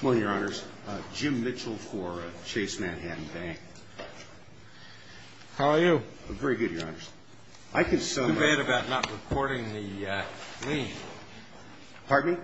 Well, your honors, Jim Mitchell for Chase Manhattan Bank. How are you? I'm very good, your honors. I can sum up... It's too bad about not recording the lien. Pardon me?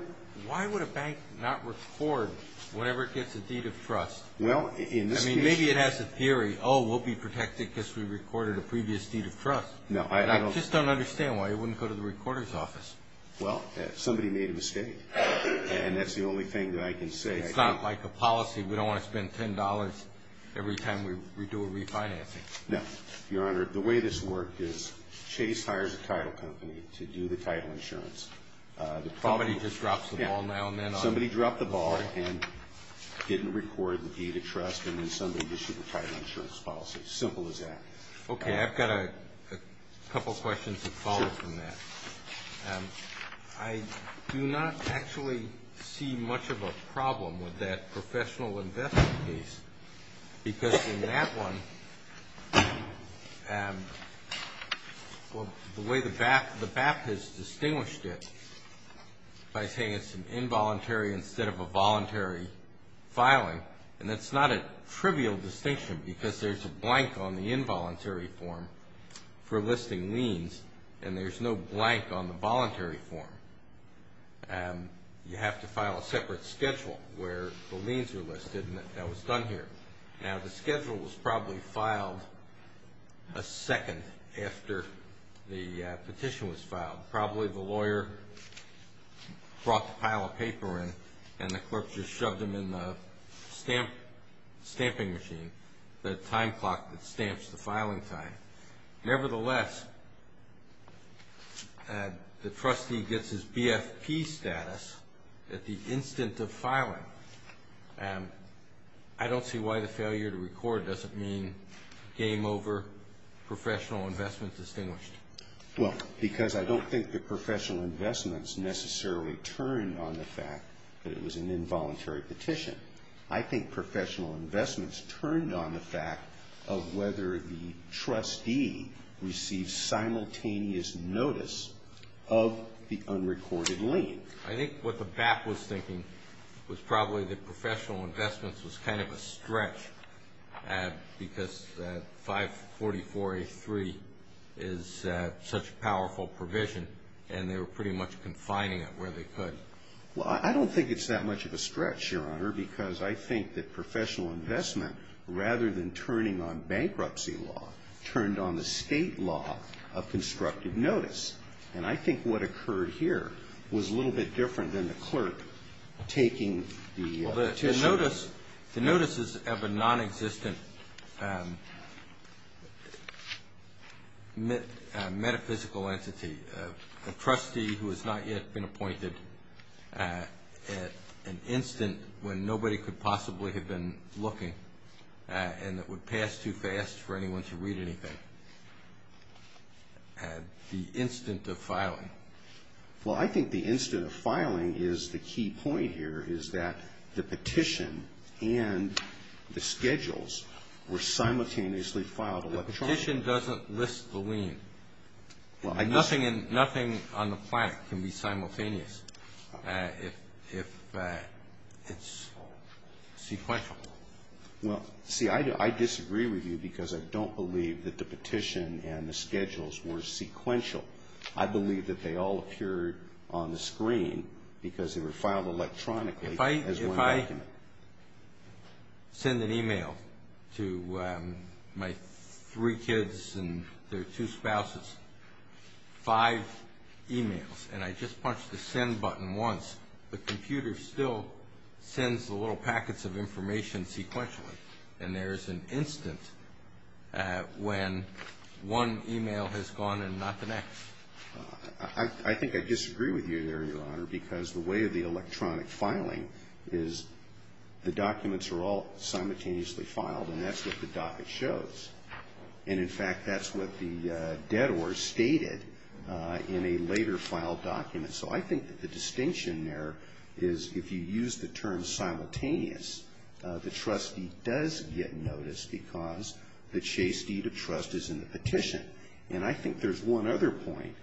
Why would a bank not record whenever it gets a deed of trust? Well, in this case... I mean, maybe it has a theory, oh, we'll be protected because we recorded a previous deed of trust. No, I don't... I just don't understand why it wouldn't go to the recorder's office. Well, somebody made a mistake, and that's the only thing that I can say. It's not like a policy. We don't want to spend $10 every time we do a refinancing. No, your honor, the way this worked is Chase hires a title company to do the title insurance. Somebody just drops the ball now and then on... Somebody dropped the ball and didn't record the deed of trust, and then somebody issued the title insurance policy. Simple as that. Okay, I've got a couple questions that follow from that. I do not actually see much of a problem with that professional investment case, because in that one, the way the BAP has distinguished it by saying it's an involuntary instead of a voluntary filing, and that's not a trivial distinction because there's a blank on the involuntary form for listing liens, and there's no blank on the voluntary form. You have to file a separate schedule where the liens are listed, and that was done here. Now, the schedule was probably filed a second after the petition was filed. Probably the lawyer brought the pile of paper in, and the clerk just shoved them in the stamping machine, the time clock that stamps the filing time. Nevertheless, the trustee gets his BFP status at the instant of filing. I don't see why the failure to record doesn't mean game over, professional investment distinguished. Well, because I don't think that professional investments necessarily turned on the fact that it was an involuntary petition. I think professional investments turned on the fact of whether the trustee received simultaneous notice of the unrecorded lien. I think what the BAP was thinking was probably that professional investments was kind of a stretch because 544A3 is such a powerful provision, and they were pretty much confining it where they could. Well, I don't think it's that much of a stretch, Your Honor, because I think that professional investment, rather than turning on bankruptcy law, turned on the state law of constructive notice. And I think what occurred here was a little bit different than the clerk taking the petition. Well, the notice is of a nonexistent metaphysical entity, a trustee who has not yet been appointed at an instant when nobody could possibly have been looking and that would pass too fast for anyone to read anything, the instant of filing. Well, I think the instant of filing is the key point here is that the petition and the schedules were simultaneously filed electronically. The petition doesn't list the lien. Nothing on the planet can be simultaneous if it's sequential. Well, see, I disagree with you because I don't believe that the petition and the schedules were sequential. I believe that they all appeared on the screen because they were filed electronically as one document. If I send an e-mail to my three kids and their two spouses, five e-mails, and I just punch the send button once, the computer still sends the little packets of information sequentially, and there is an instant when one e-mail has gone and not the next. I think I disagree with you there, Your Honor, because the way of the electronic filing is the documents are all simultaneously filed, and that's what the docket shows. And, in fact, that's what the dead or stated in a later filed document. So I think that the distinction there is if you use the term simultaneous, the trustee does get noticed because the chaste deed of trust is in the petition. And I think there's one other point,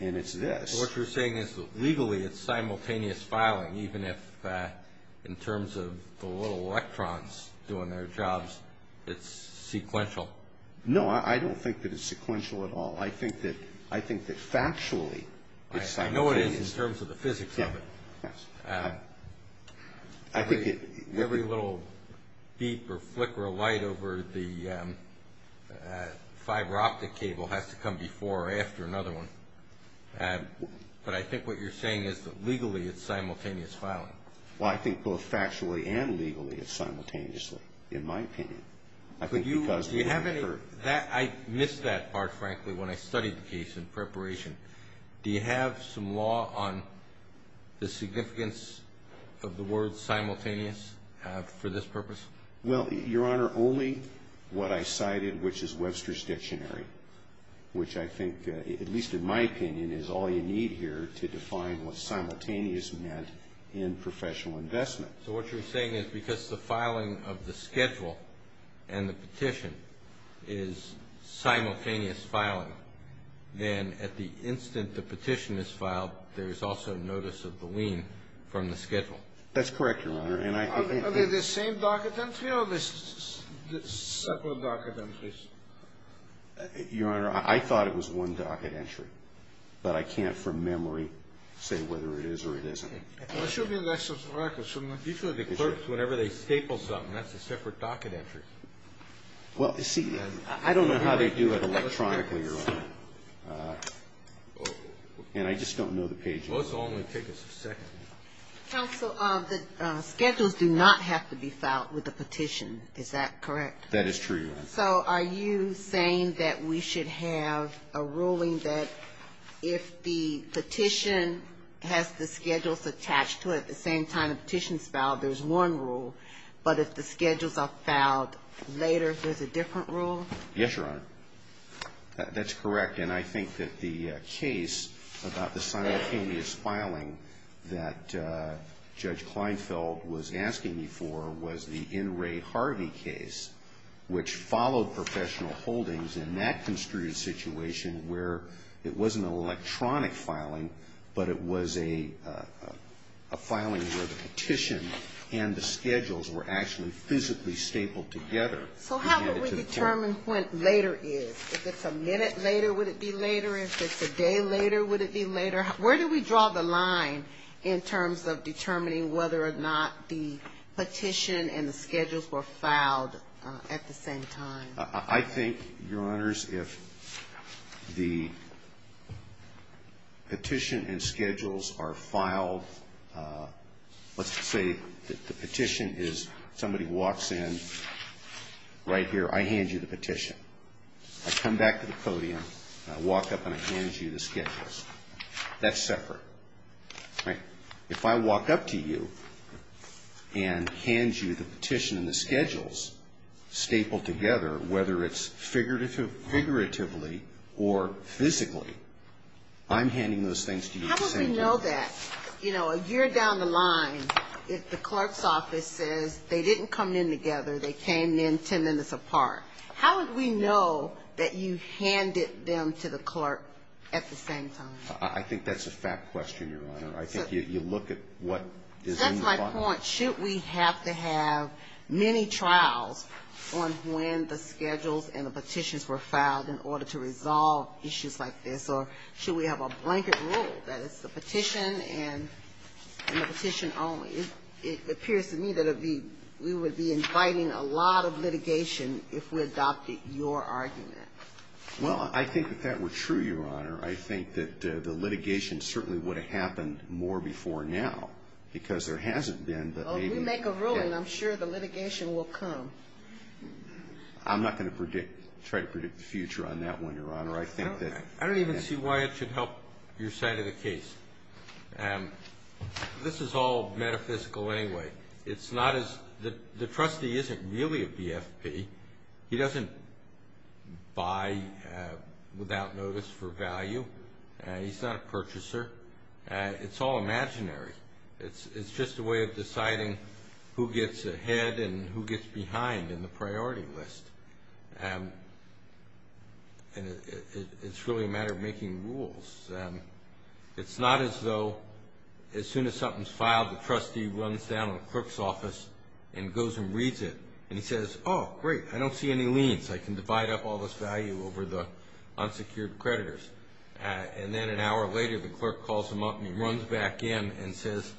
and it's this. What you're saying is that legally it's simultaneous filing, even if in terms of the little electrons doing their jobs, it's sequential. No, I don't think that it's sequential at all. I think that factually it's simultaneous. I know it is in terms of the physics of it. Every little beep or flick or light over the fiber optic cable has to come before or after another one. But I think what you're saying is that legally it's simultaneous filing. Well, I think both factually and legally it's simultaneously, in my opinion. I missed that part, frankly, when I studied the case in preparation. Do you have some law on the significance of the word simultaneous for this purpose? Well, Your Honor, only what I cited, which is Webster's Dictionary, which I think, at least in my opinion, is all you need here to define what simultaneous meant in professional investment. So what you're saying is because the filing of the schedule and the petition is simultaneous filing, then at the instant the petition is filed, there is also notice of the lien from the schedule. That's correct, Your Honor. Are they the same docket entry or are they separate docket entries? Your Honor, I thought it was one docket entry, but I can't from memory say whether it is or it isn't. Assuming that's correct, do you think the clerks, whenever they staple something, that's a separate docket entry? Well, see, I don't know how they do it electronically, Your Honor. And I just don't know the page numbers. Let's only take us a second. Counsel, the schedules do not have to be filed with the petition. Is that correct? That is true, Your Honor. So are you saying that we should have a ruling that if the petition has the schedules attached to it at the same time the petition is filed, there's one rule, but if the schedules are filed later, there's a different rule? Yes, Your Honor. That's correct, and I think that the case about the simultaneous filing that Judge Kleinfeld was asking me for was the N. Ray Harvey case, which followed professional holdings in that construed situation where it wasn't an electronic filing, but it was a filing where the petition and the schedules were actually physically stapled together. So how do we determine when later is? If it's a minute later, would it be later? If it's a day later, would it be later? Where do we draw the line in terms of determining whether or not the petition and the schedules were filed at the same time? I think, Your Honors, if the petition and schedules are filed, let's say that the petition is somebody walks in right here, I hand you the petition. I come back to the podium and I walk up and I hand you the schedules. That's separate. If I walk up to you and hand you the petition and the schedules stapled together, whether it's figuratively or physically, I'm handing those things to you at the same time. How would we know that? You know, a year down the line, if the clerk's office says they didn't come in together, they came in 10 minutes apart, how would we know that you handed them to the clerk at the same time? I think that's a fact question, Your Honor. I think you look at what is in the file. That's my point. Should we have to have many trials on when the schedules and the petitions were filed in order to resolve issues like this? Or should we have a blanket rule that it's the petition and the petition only? It appears to me that we would be inviting a lot of litigation if we adopted your argument. Well, I think that that were true, Your Honor. I think that the litigation certainly would have happened more before now because there hasn't been. Well, we make a rule and I'm sure the litigation will come. I'm not going to try to predict the future on that one, Your Honor. I don't even see why it should help your side of the case. This is all metaphysical anyway. The trustee isn't really a BFP. He doesn't buy without notice for value. He's not a purchaser. It's all imaginary. It's just a way of deciding who gets ahead and who gets behind in the priority list. It's really a matter of making rules. It's not as though as soon as something's filed, the trustee runs down to the clerk's office and goes and reads it. And he says, oh, great, I don't see any liens. I can divide up all this value over the unsecured creditors. And then an hour later, the clerk calls him up and he runs back in and says,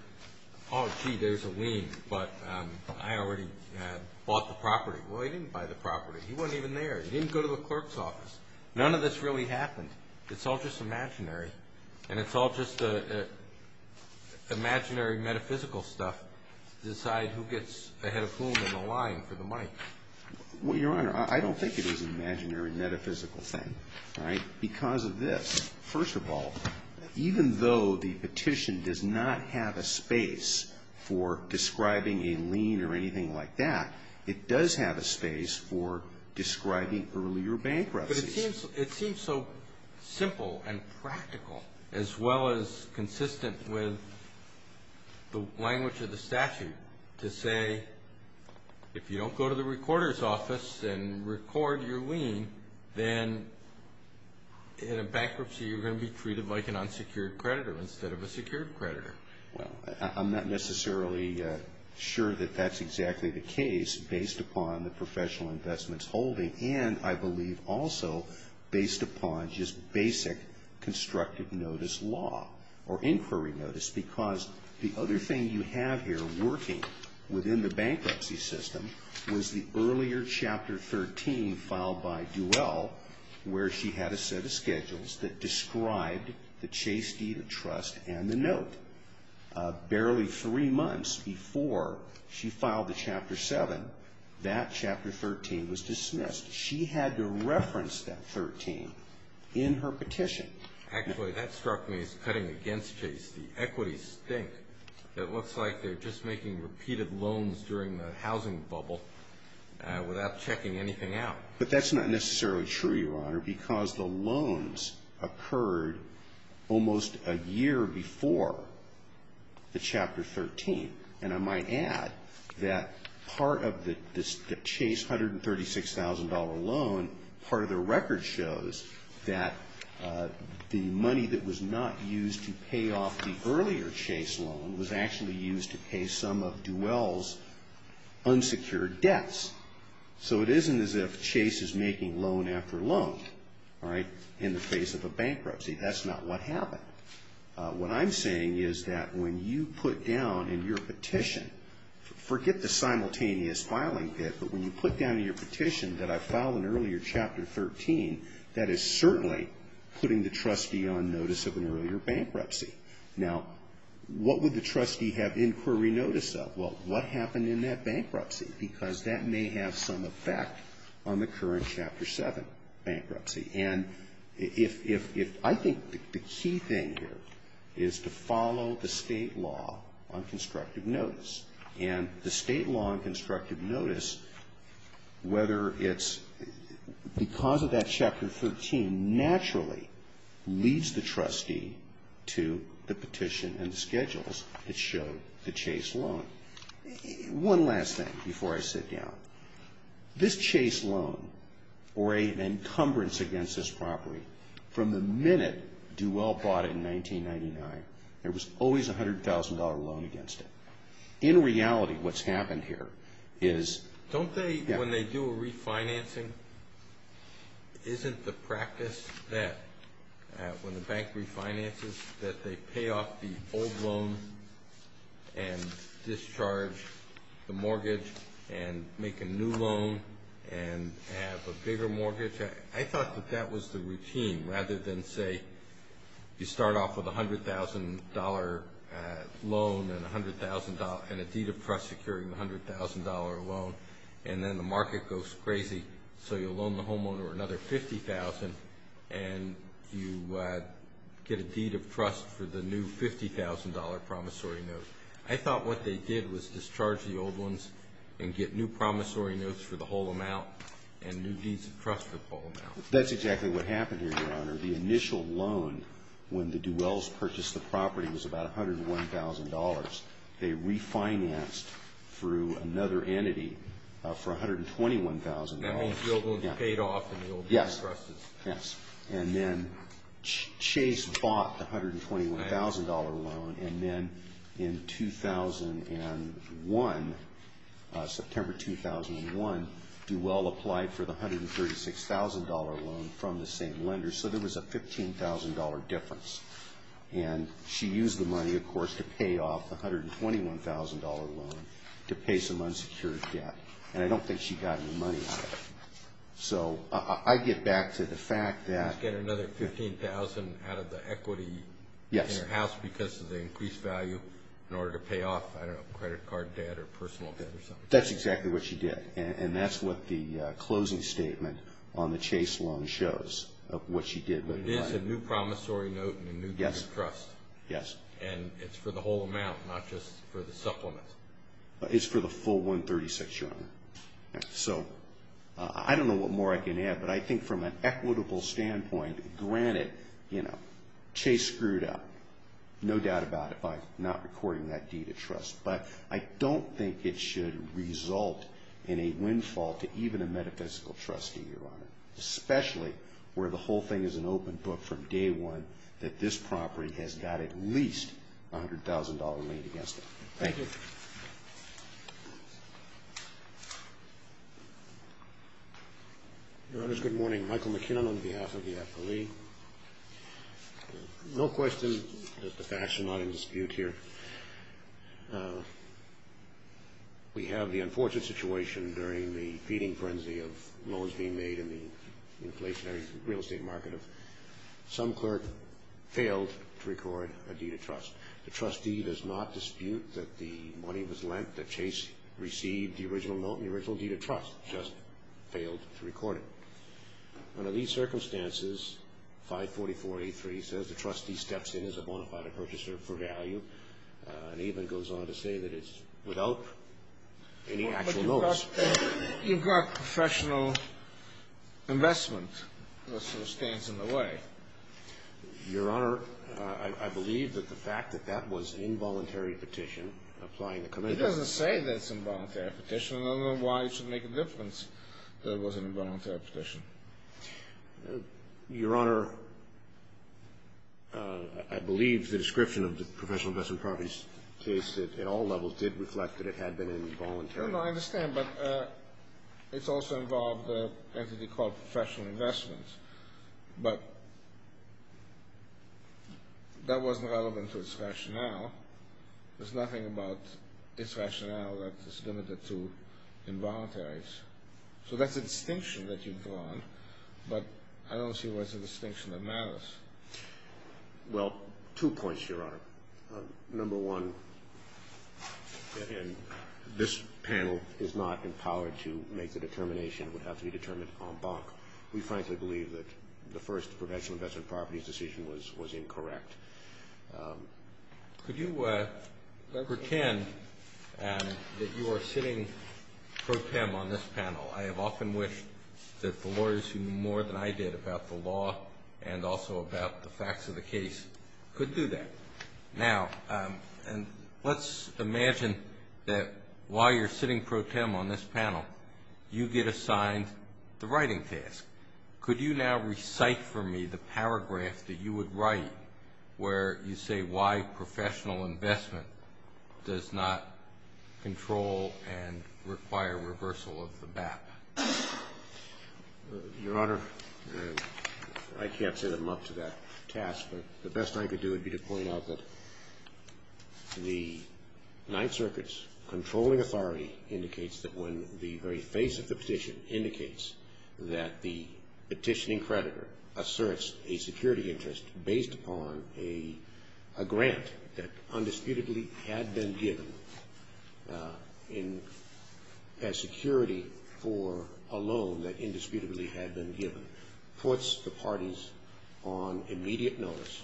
oh, gee, there's a lien, but I already bought the property. Well, he didn't buy the property. He wasn't even there. He didn't go to the clerk's office. None of this really happened. It's all just imaginary. And it's all just imaginary metaphysical stuff to decide who gets ahead of whom in the line for the money. Well, Your Honor, I don't think it was an imaginary metaphysical thing because of this. First of all, even though the petition does not have a space for describing a lien or anything like that, it does have a space for describing earlier bankruptcies. But it seems so simple and practical as well as consistent with the language of the statute to say, if you don't go to the recorder's office and record your lien, then in a bankruptcy, you're going to be treated like an unsecured creditor instead of a secured creditor. Well, I'm not necessarily sure that that's exactly the case based upon the professional investments holding. And I believe also based upon just basic constructive notice law or inquiry notice. Because the other thing you have here working within the bankruptcy system was the earlier Chapter 13 filed by Duell, where she had a set of schedules that described the chaste deed of trust and the note. Barely three months before she filed the Chapter 7, that Chapter 13 was dismissed. She had to reference that 13 in her petition. Actually, that struck me as cutting against chaste. The equities think that it looks like they're just making repeated loans during the housing bubble without checking anything out. But that's not necessarily true, Your Honor, because the loans occurred almost a year before the Chapter 13. And I might add that part of the chaste $136,000 loan, part of the record shows that the money that was not used to pay off the earlier chaste loan was actually used to pay some of Duell's unsecured debts. So it isn't as if chaste is making loan after loan in the face of a bankruptcy. That's not what happened. What I'm saying is that when you put down in your petition, forget the simultaneous filing bit, but when you put down in your petition that I filed in earlier Chapter 13, that is certainly putting the trustee on notice of an earlier bankruptcy. Now, what would the trustee have inquiry notice of? Well, what happened in that bankruptcy? Because that may have some effect on the current Chapter 7 bankruptcy. And I think the key thing here is to follow the state law on constructive notice. And the state law on constructive notice, whether it's because of that Chapter 13, naturally leads the trustee to the petition and schedules that show the chaste loan. One last thing before I sit down. This chaste loan, or an encumbrance against this property, from the minute Duell bought it in 1999, there was always a $100,000 loan against it. In reality, what's happened here is – when the bank refinances, that they pay off the old loan and discharge the mortgage and make a new loan and have a bigger mortgage. I thought that that was the routine rather than, say, you start off with a $100,000 loan and a deed of trust securing a $100,000 loan, and then the market goes crazy, so you loan the homeowner another $50,000 and you get a deed of trust for the new $50,000 promissory note. I thought what they did was discharge the old ones and get new promissory notes for the whole amount and new deeds of trust for the whole amount. That's exactly what happened here, Your Honor. The initial loan, when the Duells purchased the property, was about $101,000. They refinanced through another entity for $121,000. The old field loans paid off in the old deed of trust. Yes, yes. And then Chase bought the $121,000 loan, and then in 2001, September 2001, Duell applied for the $136,000 loan from the same lender, so there was a $15,000 difference. And she used the money, of course, to pay off the $121,000 loan to pay some unsecured debt, and I don't think she got any money out of it. So I get back to the fact that – She's getting another $15,000 out of the equity in her house because of the increased value in order to pay off, I don't know, credit card debt or personal debt or something. That's exactly what she did, and that's what the closing statement on the Chase loan shows of what she did. It is a new promissory note and a new deed of trust. Yes. And it's for the whole amount, not just for the supplements. It's for the full $136,000, Your Honor. So I don't know what more I can add, but I think from an equitable standpoint, granted, Chase screwed up, no doubt about it, by not recording that deed of trust, but I don't think it should result in a windfall to even a metaphysical trustee, Your Honor, especially where the whole thing is an open book from day one that this property has got at least a $100,000 lien against it. Thank you. Your Honors, good morning. Michael McKinnon on behalf of the FLE. No question that the facts are not in dispute here. We have the unfortunate situation during the feeding frenzy of loans being made in the inflationary real estate market. Some clerk failed to record a deed of trust. The trustee does not dispute that the money was lent, that Chase received the original note and the original deed of trust, just failed to record it. Under these circumstances, 544-83 says the trustee steps in as a bona fide purchaser for value and even goes on to say that it's without any actual notice. You've got professional investment that sort of stands in the way. Your Honor, I believe that the fact that that was an involuntary petition applying the commission. It doesn't say that it's an involuntary petition. I don't know why it should make a difference that it was an involuntary petition. Your Honor, I believe the description of the professional investment properties case at all levels did reflect that it had been involuntary. I understand, but it's also involved an entity called professional investment. But that wasn't relevant to its rationale. There's nothing about its rationale that is limited to involuntaries. So that's a distinction that you've drawn, but I don't see why it's a distinction that matters. Well, two points, Your Honor. Number one, this panel is not empowered to make the determination that would have to be determined on bonk. We frankly believe that the first professional investment properties decision was incorrect. Could you pretend that you are sitting pro tem on this panel? I have often wished that the lawyers who knew more than I did about the law and also about the facts of the case could do that. Now, let's imagine that while you're sitting pro tem on this panel, you get assigned the writing task. Could you now recite for me the paragraph that you would write where you say why professional investment does not control and require reversal of the BAP? Your Honor, I can't set him up to that task, but the best I could do would be to point out that the Ninth Circuit's controlling authority indicates that when the very face of the petition indicates that the petitioning creditor asserts a security interest based upon a grant that undisputedly had been given as security for a loan that indisputably had been given, puts the parties on immediate notice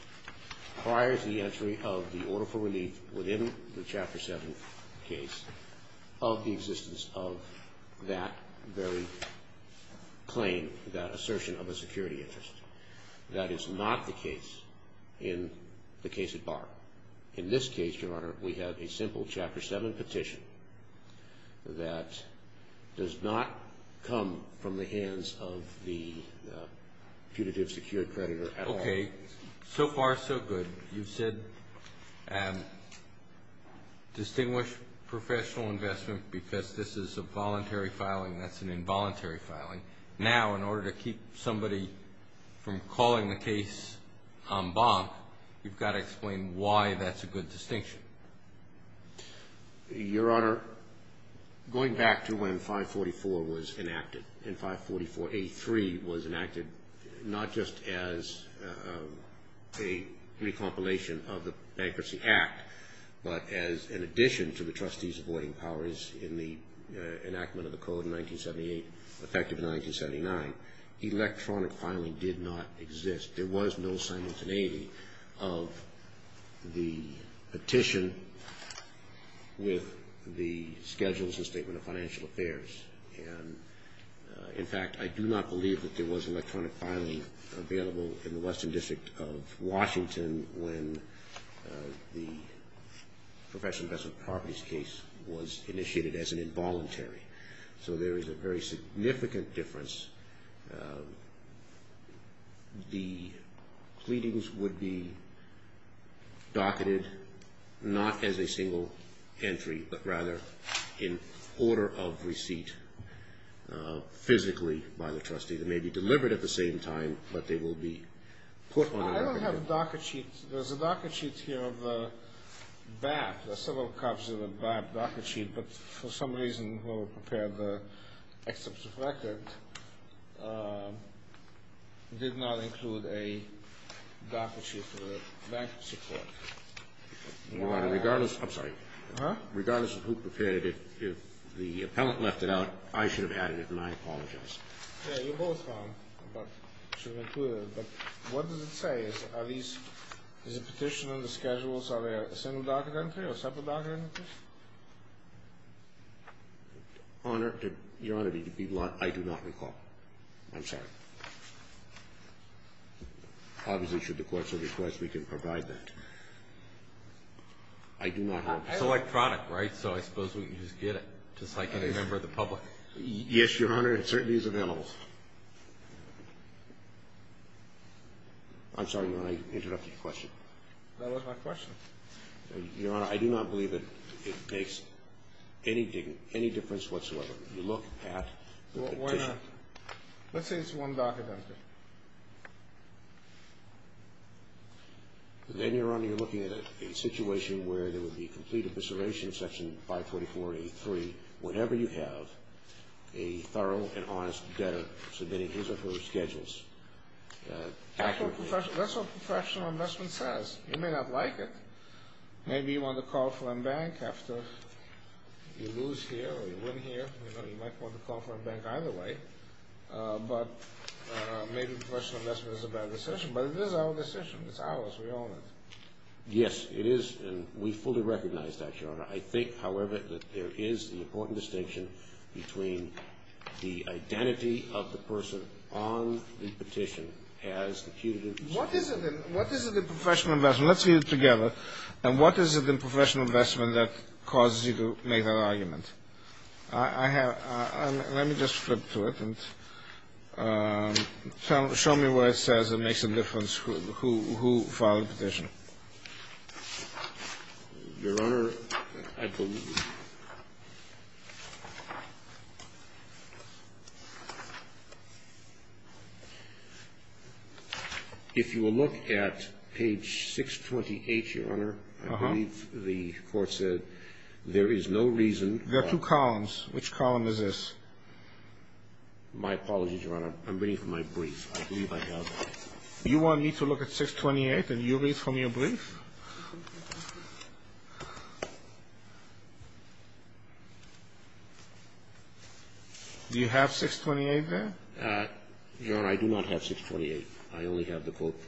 prior to the entry of the order for relief within the Chapter 7 case of the existence of that very claim, that assertion of a security interest. That is not the case in the case at bar. In this case, Your Honor, we have a simple Chapter 7 petition that does not come from the hands of the punitive secured creditor at all. Okay, so far so good. You've said distinguish professional investment because this is a voluntary filing, that's an involuntary filing. Now, in order to keep somebody from calling the case en banc, you've got to explain why that's a good distinction. Your Honor, going back to when 544 was enacted and 544A3 was enacted, not just as a recompilation of the Bankruptcy Act, but as an addition to the Trustees Avoiding Powers in the enactment of the Code in 1978, effective in 1979, electronic filing did not exist. There was no simultaneity of the petition with the schedules and Statement of Financial Affairs. And, in fact, I do not believe that there was electronic filing available in the Western District of Washington when the professional investment properties case was initiated as an involuntary. So there is a very significant difference. The pleadings would be docketed not as a single entry, but rather in order of receipt physically by the Trustee. They may be delivered at the same time, but they will be put on record. I don't have a docket sheet. There's a docket sheet here of the BAP. There are several copies of the BAP docket sheet, but for some reason whoever prepared the excerpt of record did not include a docket sheet for the Bankruptcy Court. Your Honor, regardless of who prepared it, if the appellant left it out, I should have added it, and I apologize. Yeah, you're both wrong, but I should have included it. But what does it say? Is it a petition under schedules? Are they a single docket entry or a separate docket entry? Your Honor, I do not recall. I'm sorry. Obviously, should the Court so request, we can provide that. I do not have it. It's electronic, right? So I suppose we can just get it, just like any member of the public. Yes, Your Honor. It certainly is available. I'm sorry, Your Honor. I interrupted your question. That was my question. Your Honor, I do not believe that it makes anything, any difference whatsoever. If you look at the petition. Well, why not? Let's say it's one docket entry. Then, Your Honor, you're looking at a situation where there would be complete evisceration, section 544-83, whenever you have a thorough and honest debtor submitting his or her schedules. That's what professional investment says. You may not like it. Maybe you want to call for embank after you lose here or you win here. You might want to call for embank either way. But maybe professional investment is a bad decision. But it is our decision. It's ours. We own it. Yes, it is. And we fully recognize that, Your Honor. I think, however, that there is an important distinction between the identity of the person on the petition as the accused. What is it in professional investment? Let's read it together. And what is it in professional investment that causes you to make that argument? Let me just flip to it and show me where it says it makes a difference who filed the petition. Your Honor, I believe if you will look at page 628, Your Honor, I believe the court said there is no reason. There are two columns. Which column is this? My apologies, Your Honor. I'm reading from my brief. I believe I have. You want me to look at 628 and you read from your brief? Do you have 628 there? Your Honor, I do not have 628. I only have the quote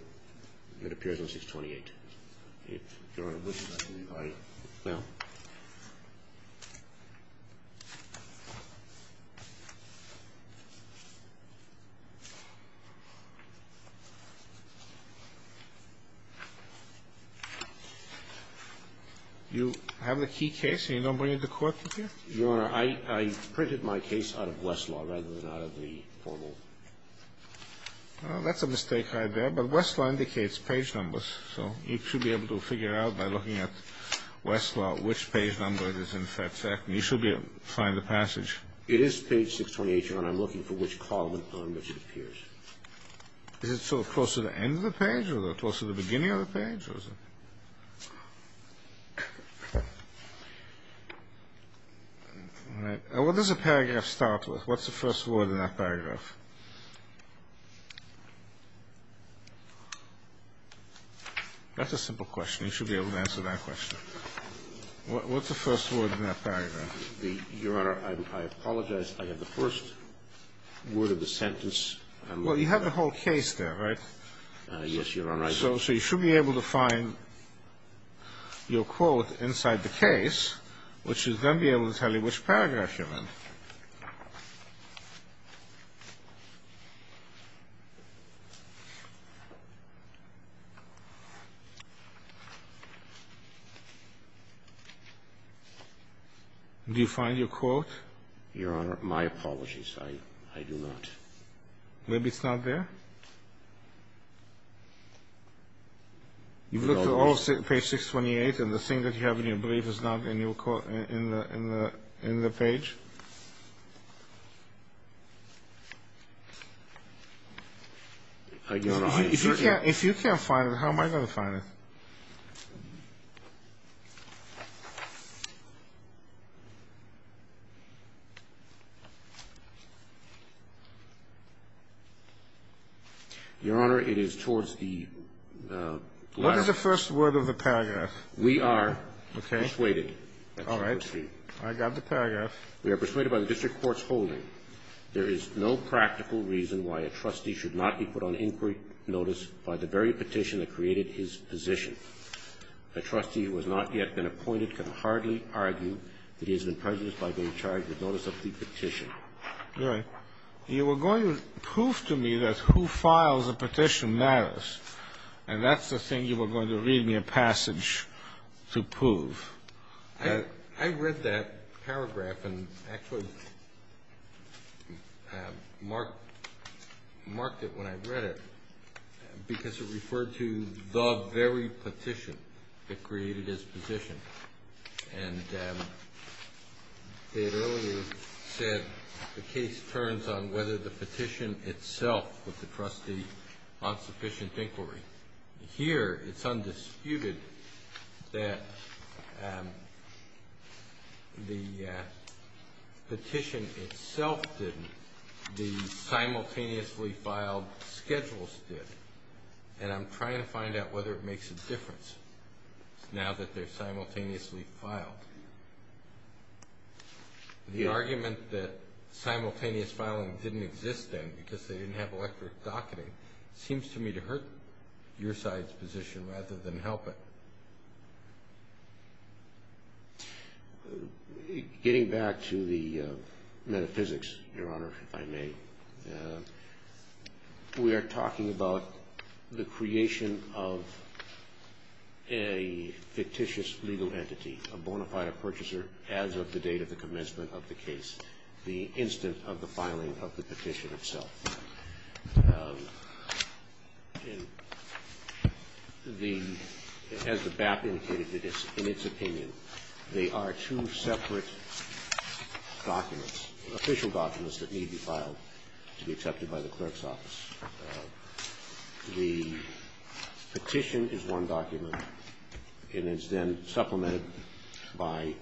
that appears on 628. Your Honor, I believe I have. No. You have the key case and you don't bring it to court with you? Your Honor, I printed my case out of Westlaw rather than out of the formal. Well, that's a mistake right there. But Westlaw indicates page numbers. So you should be able to figure out by looking at Westlaw which page number it is in fact. You should be able to find the passage. It is page 628, Your Honor. I'm looking for which column on which it appears. Is it sort of close to the end of the page or close to the beginning of the page? All right. What does the paragraph start with? What's the first word in that paragraph? That's a simple question. You should be able to answer that question. What's the first word in that paragraph? Your Honor, I apologize. I have the first word of the sentence. Well, you have the whole case there, right? Yes, Your Honor. So you should be able to find your quote inside the case, which should then be able to tell you which paragraph you're in. Do you find your quote? Your Honor, my apologies. I do not. Maybe it's not there? You've looked at all of page 628 and the thing that you have in your brief is not in the page? I do not. If you can't find it, how am I going to find it? Your Honor, it is towards the latter part. What is the first word of the paragraph? We are persuaded. All right. I got the paragraph. We are persuaded by the district court's holding. There is no practical reason why a trustee should not be put on inquiry notice by the very petition that created his position. A trustee who has not yet been appointed can hardly argue that he has been prejudiced by being charged with notice of the petition. Your Honor, you were going to prove to me that who files a petition matters, and that's the thing you were going to read me a passage to prove. I read that paragraph and actually marked it when I read it because it referred to the very petition that created his position. And it earlier said the case turns on whether the petition itself with the trustee on sufficient inquiry. Here it's undisputed that the petition itself didn't. The simultaneously filed schedules did. And I'm trying to find out whether it makes a difference now that they're simultaneously filed. The argument that simultaneous filing didn't exist then because they didn't have electric docketing seems to me to hurt your side's position rather than help it. Getting back to the metaphysics, Your Honor, if I may, we are talking about the creation of a fictitious legal entity, a bona fide purchaser as of the date of the commencement of the case, the instant of the filing of the petition itself. As the BAP indicated in its opinion, they are two separate documents, official documents that need to be filed to be accepted by the clerk's office. The petition is one document, and it's then supplemented by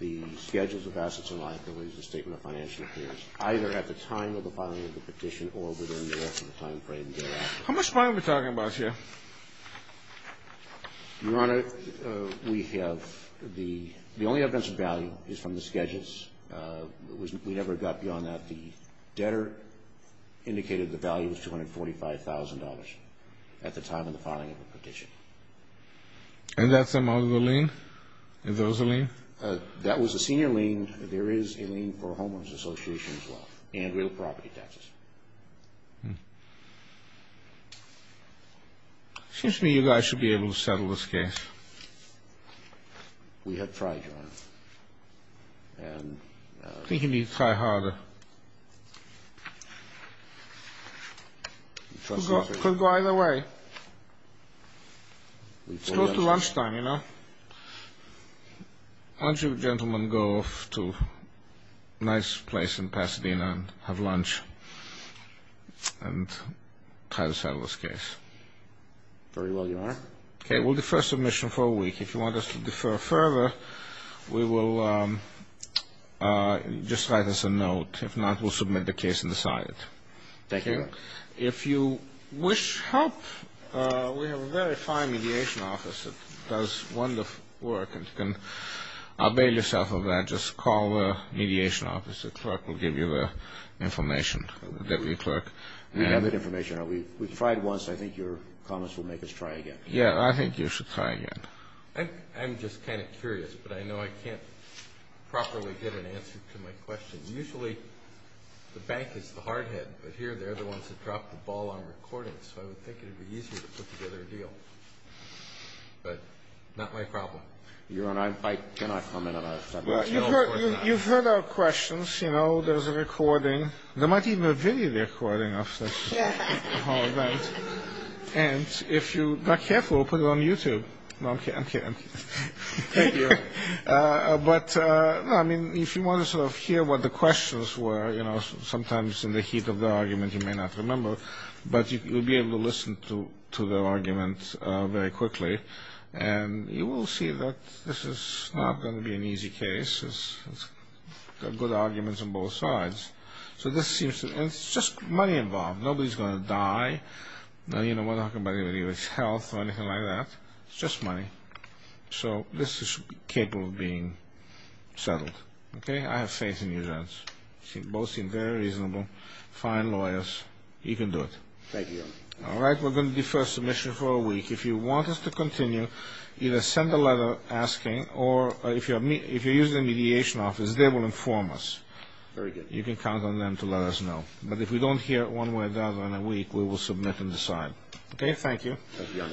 the schedules of assets and liabilities as a statement of financial appearance, either at the time of the filing of the petition or within the rest of the timeframe thereafter. How much money are we talking about here? Your Honor, we have the only evidence of value is from the schedules. We never got beyond that. The debtor indicated the value was $245,000 at the time of the filing of the petition. And that's among the lien? And those are lien? That was a senior lien. And there is a lien for a homeowner's association as well and real property taxes. It seems to me you guys should be able to settle this case. We have tried, Your Honor. I think you need to try harder. It could go either way. It's close to lunchtime, you know. Why don't you gentlemen go to a nice place in Pasadena and have lunch and try to settle this case? Very well, Your Honor. Okay. We'll defer submission for a week. If you want us to defer further, we will just write us a note. If not, we'll submit the case and decide it. Thank you. If you wish help, we have a very fine mediation office that does wonderful work and you can avail yourself of that. Just call the mediation office. The clerk will give you the information, the deputy clerk. We have that information. We tried once. I think your comments will make us try again. Yeah, I think you should try again. I'm just kind of curious, but I know I can't properly get an answer to my question. Usually the bank is the hard head, but here they're the ones that drop the ball on recordings, so I would think it would be easier to put together a deal. But not my problem. Your Honor, I cannot comment on that. You've heard our questions. You know, there's a recording. There might even be a video recording of this whole event. And if you're not careful, we'll put it on YouTube. No, I'm kidding. Thank you. But, I mean, if you want to sort of hear what the questions were, you know, sometimes in the heat of the argument you may not remember, but you'll be able to listen to the argument very quickly, and you will see that this is not going to be an easy case. There are good arguments on both sides. So this seems to be just money involved. Nobody's going to die. You know, we're not talking about anybody's health or anything like that. It's just money. So this is capable of being settled. Okay? I have faith in you, Judge. You both seem very reasonable, fine lawyers. You can do it. Thank you, Your Honor. All right, we're going to defer submission for a week. If you want us to continue, either send a letter asking, or if you're using the mediation office, they will inform us. Very good. You can count on them to let us know. But if we don't hear one way or the other in a week, we will submit and decide. Okay? Thank you. Thank you, Your Honor.